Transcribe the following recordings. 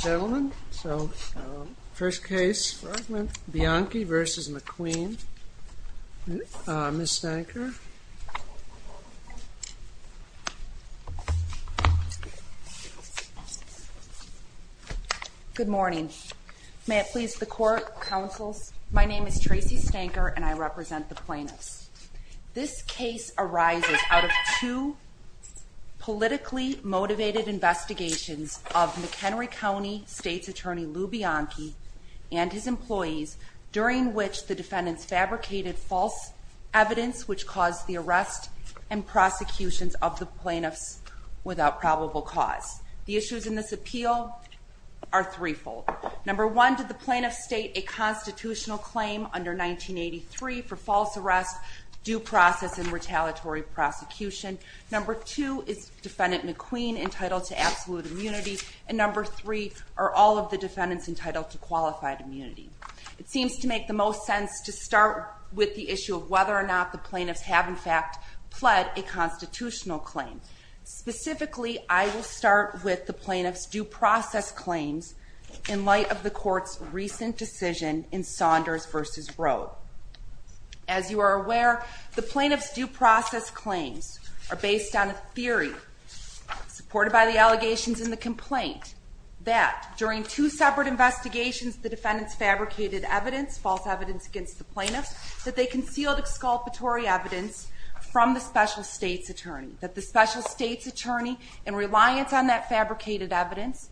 Gentlemen, so first case, Bianchi v. McQueen. Ms. Stanker. Good morning. May it please the court, counsels, my name is Tracy Stanker and I represent the plaintiffs. This case arises out of two politically motivated investigations of McHenry County State's Attorney Lou Bianchi and his employees during which the defendants fabricated false evidence which caused the arrest and prosecutions of the plaintiffs without probable cause. The issues in this appeal are threefold. Number one, did the plaintiffs state a constitutional claim under 1983 for false arrest, due process, and retaliatory prosecution? Number two, is defendant McQueen entitled to absolute immunity? And number three, are all of the defendants entitled to qualified immunity? It seems to make the most sense to start with the issue of whether or not the plaintiffs have in fact pled a constitutional claim. Specifically, I will start with the plaintiffs' due process claims in light of the court's recent decision in Saunders v. Roe. As you are aware, the plaintiffs' due process claims are based on a theory supported by the allegations in the complaint that during two separate investigations the defendants fabricated evidence, false evidence against the plaintiffs, that they concealed exculpatory evidence from the special state's attorney. That the special state's attorney, in reliance on that fabricated evidence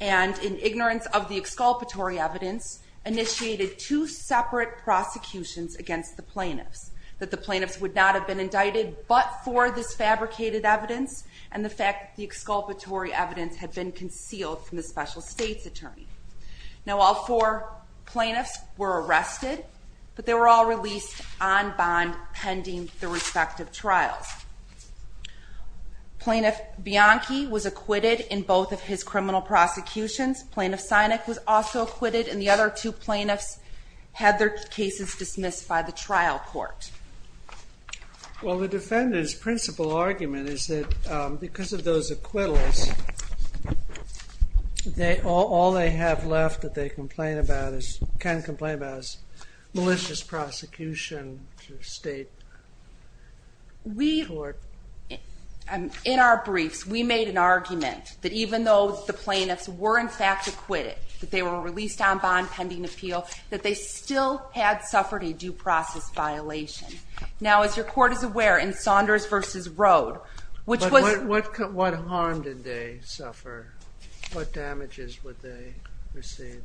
and in ignorance of the exculpatory evidence, initiated two separate prosecutions against the plaintiffs. That the plaintiffs would not have been indicted but for this fabricated evidence and the fact that the exculpatory evidence had been concealed from the special state's attorney. Now all four plaintiffs were arrested, but they were all released on bond pending the respective trials. Plaintiff Bianchi was acquitted in both of his criminal prosecutions. Plaintiff Sinek was also acquitted, and the other two plaintiffs had their cases dismissed by the trial court. Well, the defendant's principal argument is that because of those acquittals, all they have left that they can complain about is malicious prosecution to the state. In our briefs, we made an argument that even though the plaintiffs were in fact acquitted, that they were released on bond pending appeal, that they still had suffered a due process violation. Now as your court is aware, in Saunders v. Rode, which was... But what harm did they suffer? What damages would they receive?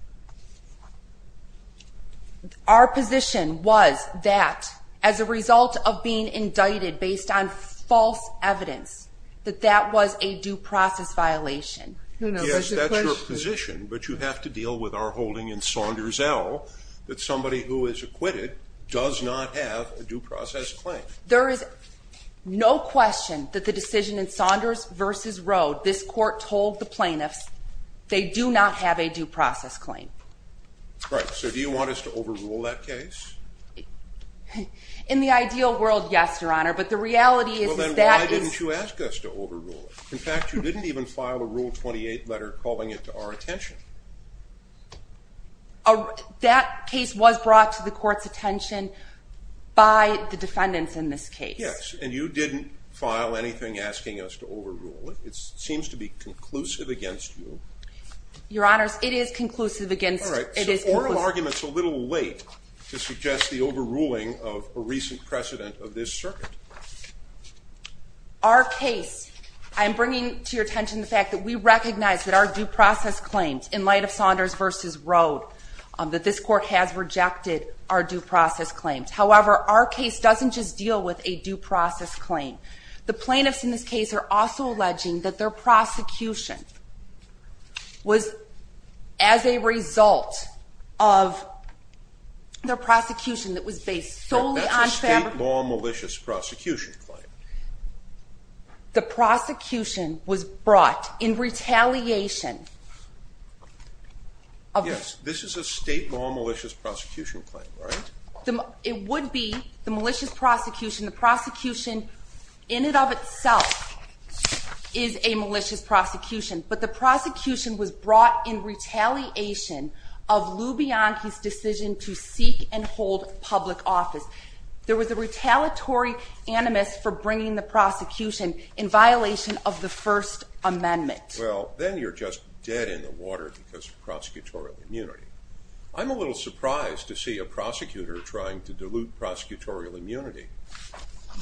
Our position was that as a result of being indicted based on false evidence, that that was a due process violation. Yes, that's your position, but you have to deal with our holding in Saunders L. that somebody who is acquitted does not have a due process claim. There is no question that the decision in Saunders v. Rode, this court told the plaintiffs, they do not have a due process claim. Right, so do you want us to overrule that case? In the ideal world, yes, your honor, but the reality is that... Then why didn't you ask us to overrule it? In fact, you didn't even file a Rule 28 letter calling it to our attention. That case was brought to the court's attention by the defendants in this case. Yes, and you didn't file anything asking us to overrule it. It seems to be conclusive against you. Your honors, it is conclusive against... Alright, so oral argument's a little late to suggest the overruling of a recent precedent of this circuit. Our case, I'm bringing to your attention the fact that we recognize that our due process claims, in light of Saunders v. Rode, that this court has rejected our due process claims. However, our case doesn't just deal with a due process claim. The plaintiffs in this case are also alleging that their prosecution was, as a result of their prosecution that was based solely on... That's a state law malicious prosecution claim. The prosecution was brought in retaliation. Yes, this is a state law malicious prosecution claim, right? It would be the malicious prosecution. The prosecution in and of itself is a malicious prosecution, but the prosecution was brought in retaliation of Lou Bianchi's decision to seek and hold public office. There was a retaliatory animus for bringing the prosecution in violation of the First Amendment. Well, then you're just dead in the water because of prosecutorial immunity. I'm a little surprised to see a prosecutor trying to dilute prosecutorial immunity.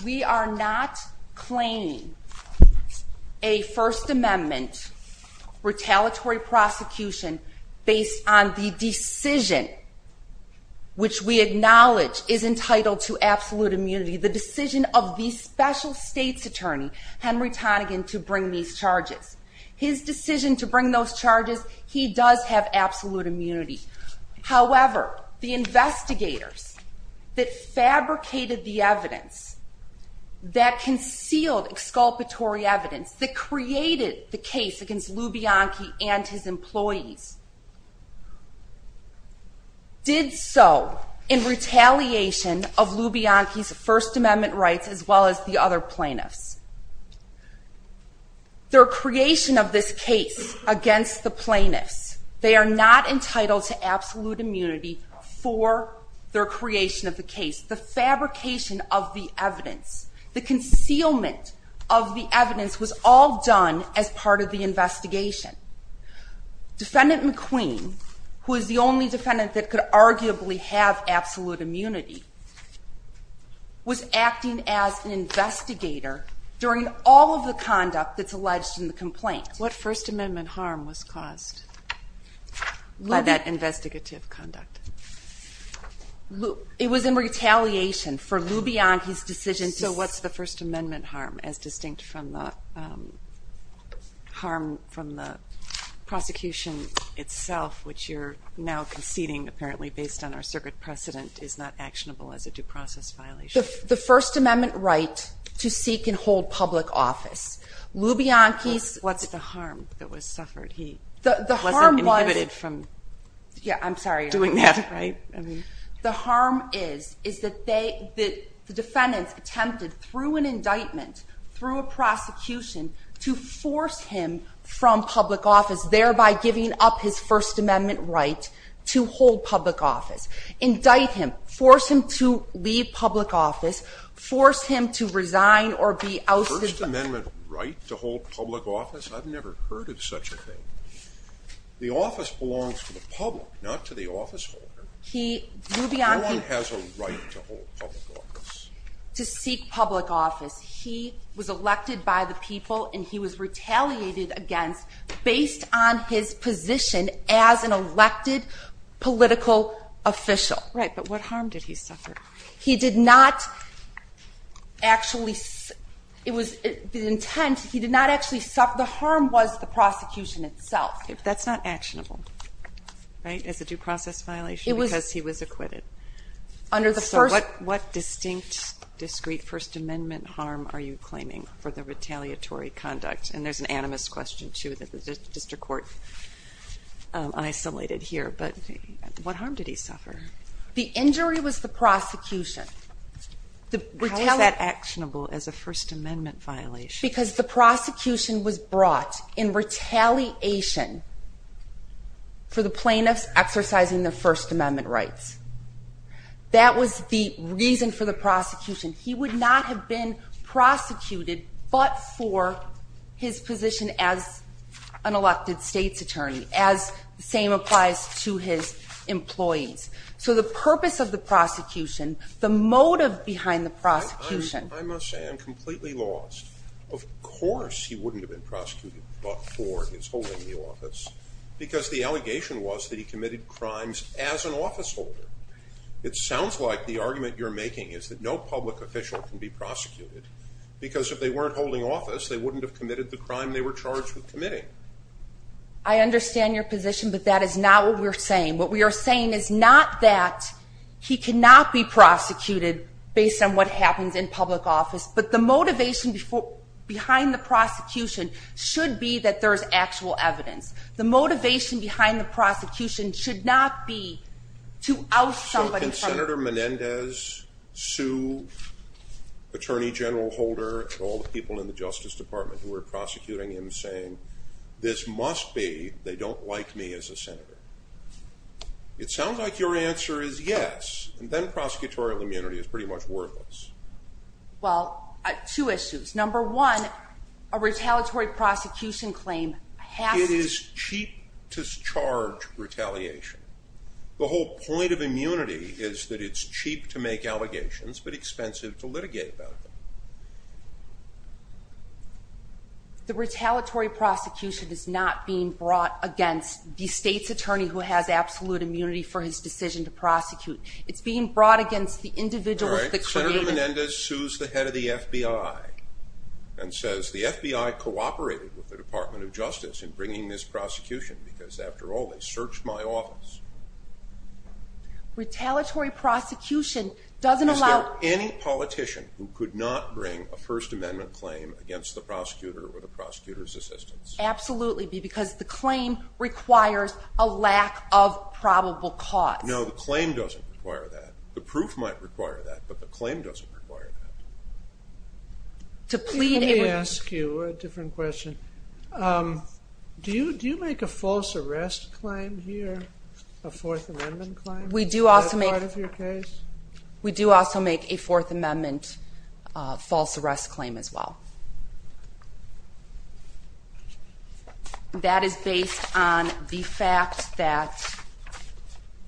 We are not claiming a First Amendment retaliatory prosecution based on the decision, which we acknowledge is entitled to absolute immunity. The decision of the special state's attorney, Henry Tonegan, to bring these charges. His decision to bring those charges, he does have absolute immunity. However, the investigators that fabricated the evidence, that concealed exculpatory evidence, that created the case against Lou Bianchi and his employees, did so in retaliation of Lou Bianchi's First Amendment rights as well as the other plaintiffs. Their creation of this case against the plaintiffs, they are not entitled to absolute immunity for their creation of the case. The fabrication of the evidence, the concealment of the evidence was all done as part of the investigation. Defendant McQueen, who is the only defendant that could arguably have absolute immunity, was acting as an investigator during all of the conduct that's alleged in the complaint. What First Amendment harm was caused by that investigative conduct? It was in retaliation for Lou Bianchi's decision to... So what's the First Amendment harm as distinct from the harm from the prosecution itself, which you're now conceding apparently based on our circuit precedent, is not actionable as a due process violation? The First Amendment right to seek and hold public office. Lou Bianchi's... What's the harm that was suffered? He wasn't inhibited from doing that, right? Yeah, I'm sorry, the harm is that the defendants attempted, through an indictment, through a public office, thereby giving up his First Amendment right to hold public office. Indict him, force him to leave public office, force him to resign or be ousted. First Amendment right to hold public office? I've never heard of such a thing. The office belongs to the public, not to the officeholder. He... Lou Bianchi... No one has a right to hold public office. To seek public office. He was elected by the people and he was retaliated against based on his position as an elected political official. Right, but what harm did he suffer? He did not actually... It was the intent. He did not actually suffer... The harm was the prosecution itself. That's not actionable, right, as a due process violation because he was acquitted. Under the First... So what distinct, discreet First Amendment harm are you claiming for the retaliatory conduct? And there's an animus question, too, that the district court isolated here, but what harm did he suffer? The injury was the prosecution. How is that actionable as a First Amendment violation? Because the prosecution was brought in retaliation for the plaintiffs exercising their First Amendment rights. That was the reason for the prosecution. He would not have been prosecuted but for his position as an elected state's attorney, as the same applies to his employees. So the purpose of the prosecution, the motive behind the prosecution... I must say I'm completely lost. Of course he wouldn't have been prosecuted but for his holding the office because the allegation was that he committed crimes as an officeholder. It sounds like the argument you're because if they weren't holding office they wouldn't have committed the crime they were charged with committing. I understand your position but that is not what we're saying. What we are saying is not that he cannot be prosecuted based on what happens in public office, but the motivation behind the prosecution should be that there's actual evidence. The motivation behind the prosecution should not be to oust somebody. So can Senator Menendez, Sue, Attorney General Holder, all the people in the Justice Department who are prosecuting him saying this must be they don't like me as a senator. It sounds like your answer is yes and then prosecutorial immunity is pretty much worthless. Well two issues. Number one, a retaliatory prosecution claim... It is cheap to charge retaliation. The whole point of immunity is that it's cheap to make allegations but expensive to litigate about them. The retaliatory prosecution is not being brought against the state's attorney who has absolute immunity for his decision to prosecute. It's being brought against the individuals that created it. Senator Menendez sues the head of the FBI and says the FBI cooperated with the Department of Justice in bringing this prosecution because after all they searched my office. Retaliatory prosecution doesn't allow... Is there any politician who could not bring a First Amendment claim against the prosecutor or the prosecutor's assistants? Absolutely, because the claim requires a lack of probable cause. No, the claim doesn't require that. The proof might require that, but the claim doesn't require that. Let me ask you a different question. Is there a false arrest claim here? A Fourth Amendment claim? Is that part of your case? We do also make a Fourth Amendment false arrest claim as well. That is based on the fact that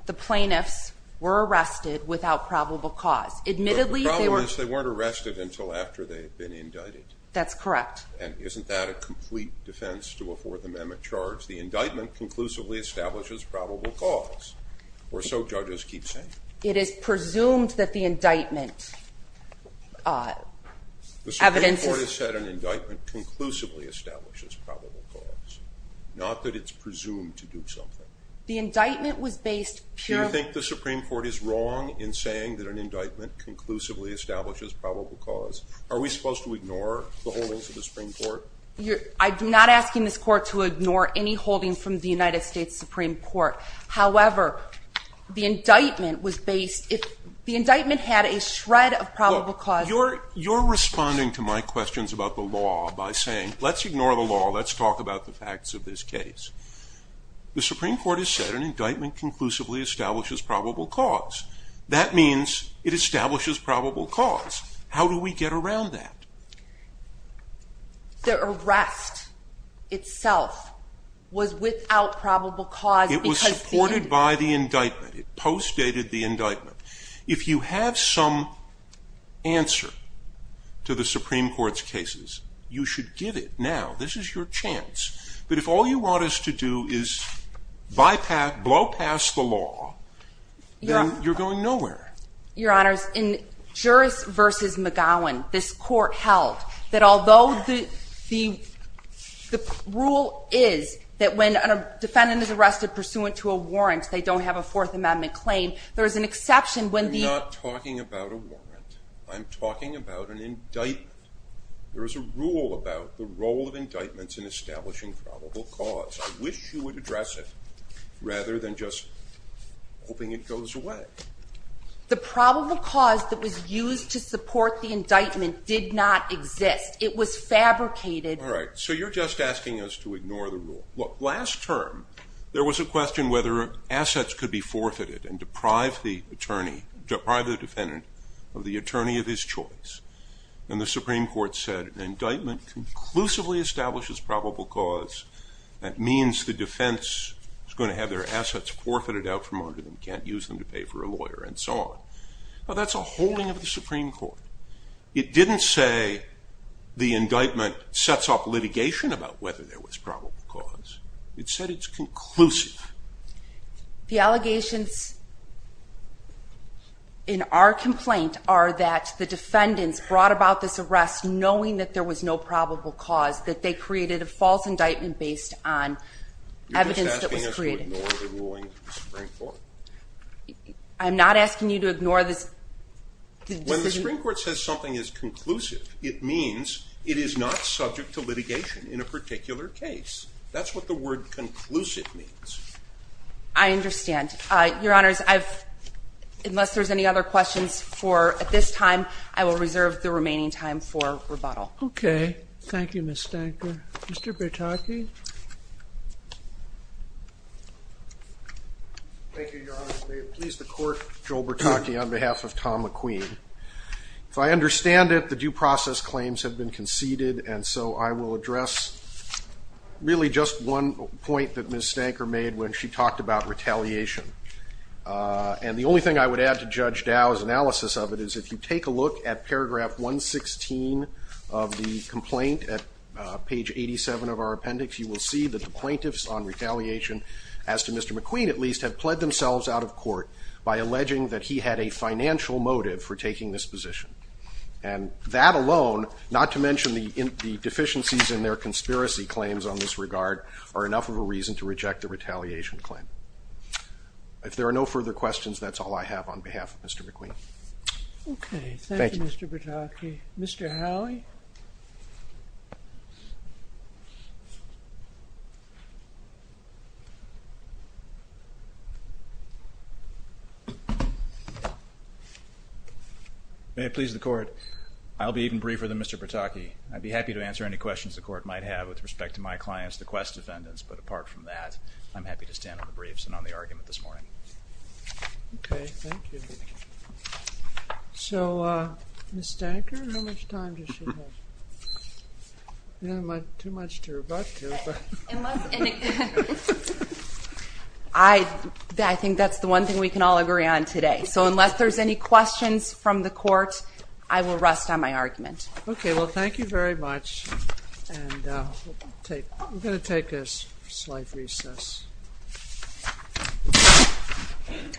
the plaintiffs were arrested without probable cause. Admittedly, they weren't arrested until after they've been indicted. That's correct. And isn't that a complete defense to a Fourth Amendment charge? The indictment conclusively establishes probable cause, or so judges keep saying. It is presumed that the indictment... The Supreme Court has said an indictment conclusively establishes probable cause, not that it's presumed to do something. The indictment was based purely... Do you think the Supreme Court is wrong in saying that an indictment conclusively establishes probable cause? Are we supposed to ignore the holdings of the United States Supreme Court? However, the indictment was based... The indictment had a shred of probable cause. You're responding to my questions about the law by saying, let's ignore the law, let's talk about the facts of this case. The Supreme Court has said an indictment conclusively establishes probable cause. That means it establishes probable cause. How do we get around that? The arrest itself is a false arrest claim. It was supported by the indictment. It postdated the indictment. If you have some answer to the Supreme Court's cases, you should give it now. This is your chance. But if all you want us to do is bypass, blow past the law, then you're going nowhere. Your Honor, in Juris v. McGowan, this Court held that although the rule is that when a defendant is arrested pursuant to a warrant, they don't have a Fourth Amendment claim, there is an exception when the... I'm not talking about a warrant. I'm talking about an indictment. There is a rule about the role of indictments in establishing probable cause. I wish you would address it rather than just hoping it goes away. The probable cause that was used to support the indictment did not exist. It was fabricated... All right, so you're just asking us to ignore the rule. Last term, there was a question whether assets could be forfeited and deprive the defendant of the attorney of his choice. And the Supreme Court said an indictment conclusively establishes probable cause. That means the defense is going to have their assets forfeited out from under them. You can't use them to pay for a lawyer and so on. Well, that's a holding of the Supreme Court. It didn't say the indictment sets up litigation about whether there was probable cause. It said it's conclusive. The allegations in our complaint are that the defendants brought about this arrest knowing that there was no probable cause, that they created a false indictment based on evidence that was created. You're just asking us to ignore the ruling of the Supreme Court. I'm not asking you to ignore this... When the Supreme Court says something is conclusive, it means it is not subject to litigation in a particular case. That's what the word conclusive means. I understand. Your Honors, unless there's any other questions at this time, I will reserve the remaining time for rebuttal. Okay. Thank you, Ms. Stanker. Mr. Bertocchi? Thank you, Your Honors. May it please the Court, Joe Bertocchi, on behalf of Tom McQueen. If I understand it, the due process claims have been conceded and so I will address really just one point that Ms. Stanker made when she talked about retaliation. And the only thing I would add to Judge Dow's analysis of it is if you take a look at paragraph 116 of the complaint at page 87 of our appendix, you will see that the plaintiffs on retaliation, as to Mr. McQueen at least, have pled themselves out of court by alleging that he had a financial motive for taking this position. And that alone, not to mention the deficiencies in their conspiracy claims on this regard, are enough of a reason to reject the retaliation claim. If there are no further questions, that's all I have on behalf of Mr. McQueen. Okay. Thank you, Mr. Bertocchi. Mr. Howie? May it please the Court. I'll be even briefer than Mr. Bertocchi. I'd be happy to answer any questions the Court might have with respect to my clients, the Quest defendants, but apart from that, I'm happy to stand on the briefs and on the argument this morning. Okay. Thank you. So, Ms. Stanker, how much time does she have? Too much to rebut. I think that's the one thing we can all agree on today. So unless there's any questions from the Court, I will rest on my argument. Okay. Well, thank you very much. We're going to take a slight recess. Thank you. Thank you. Just the cards. The cards.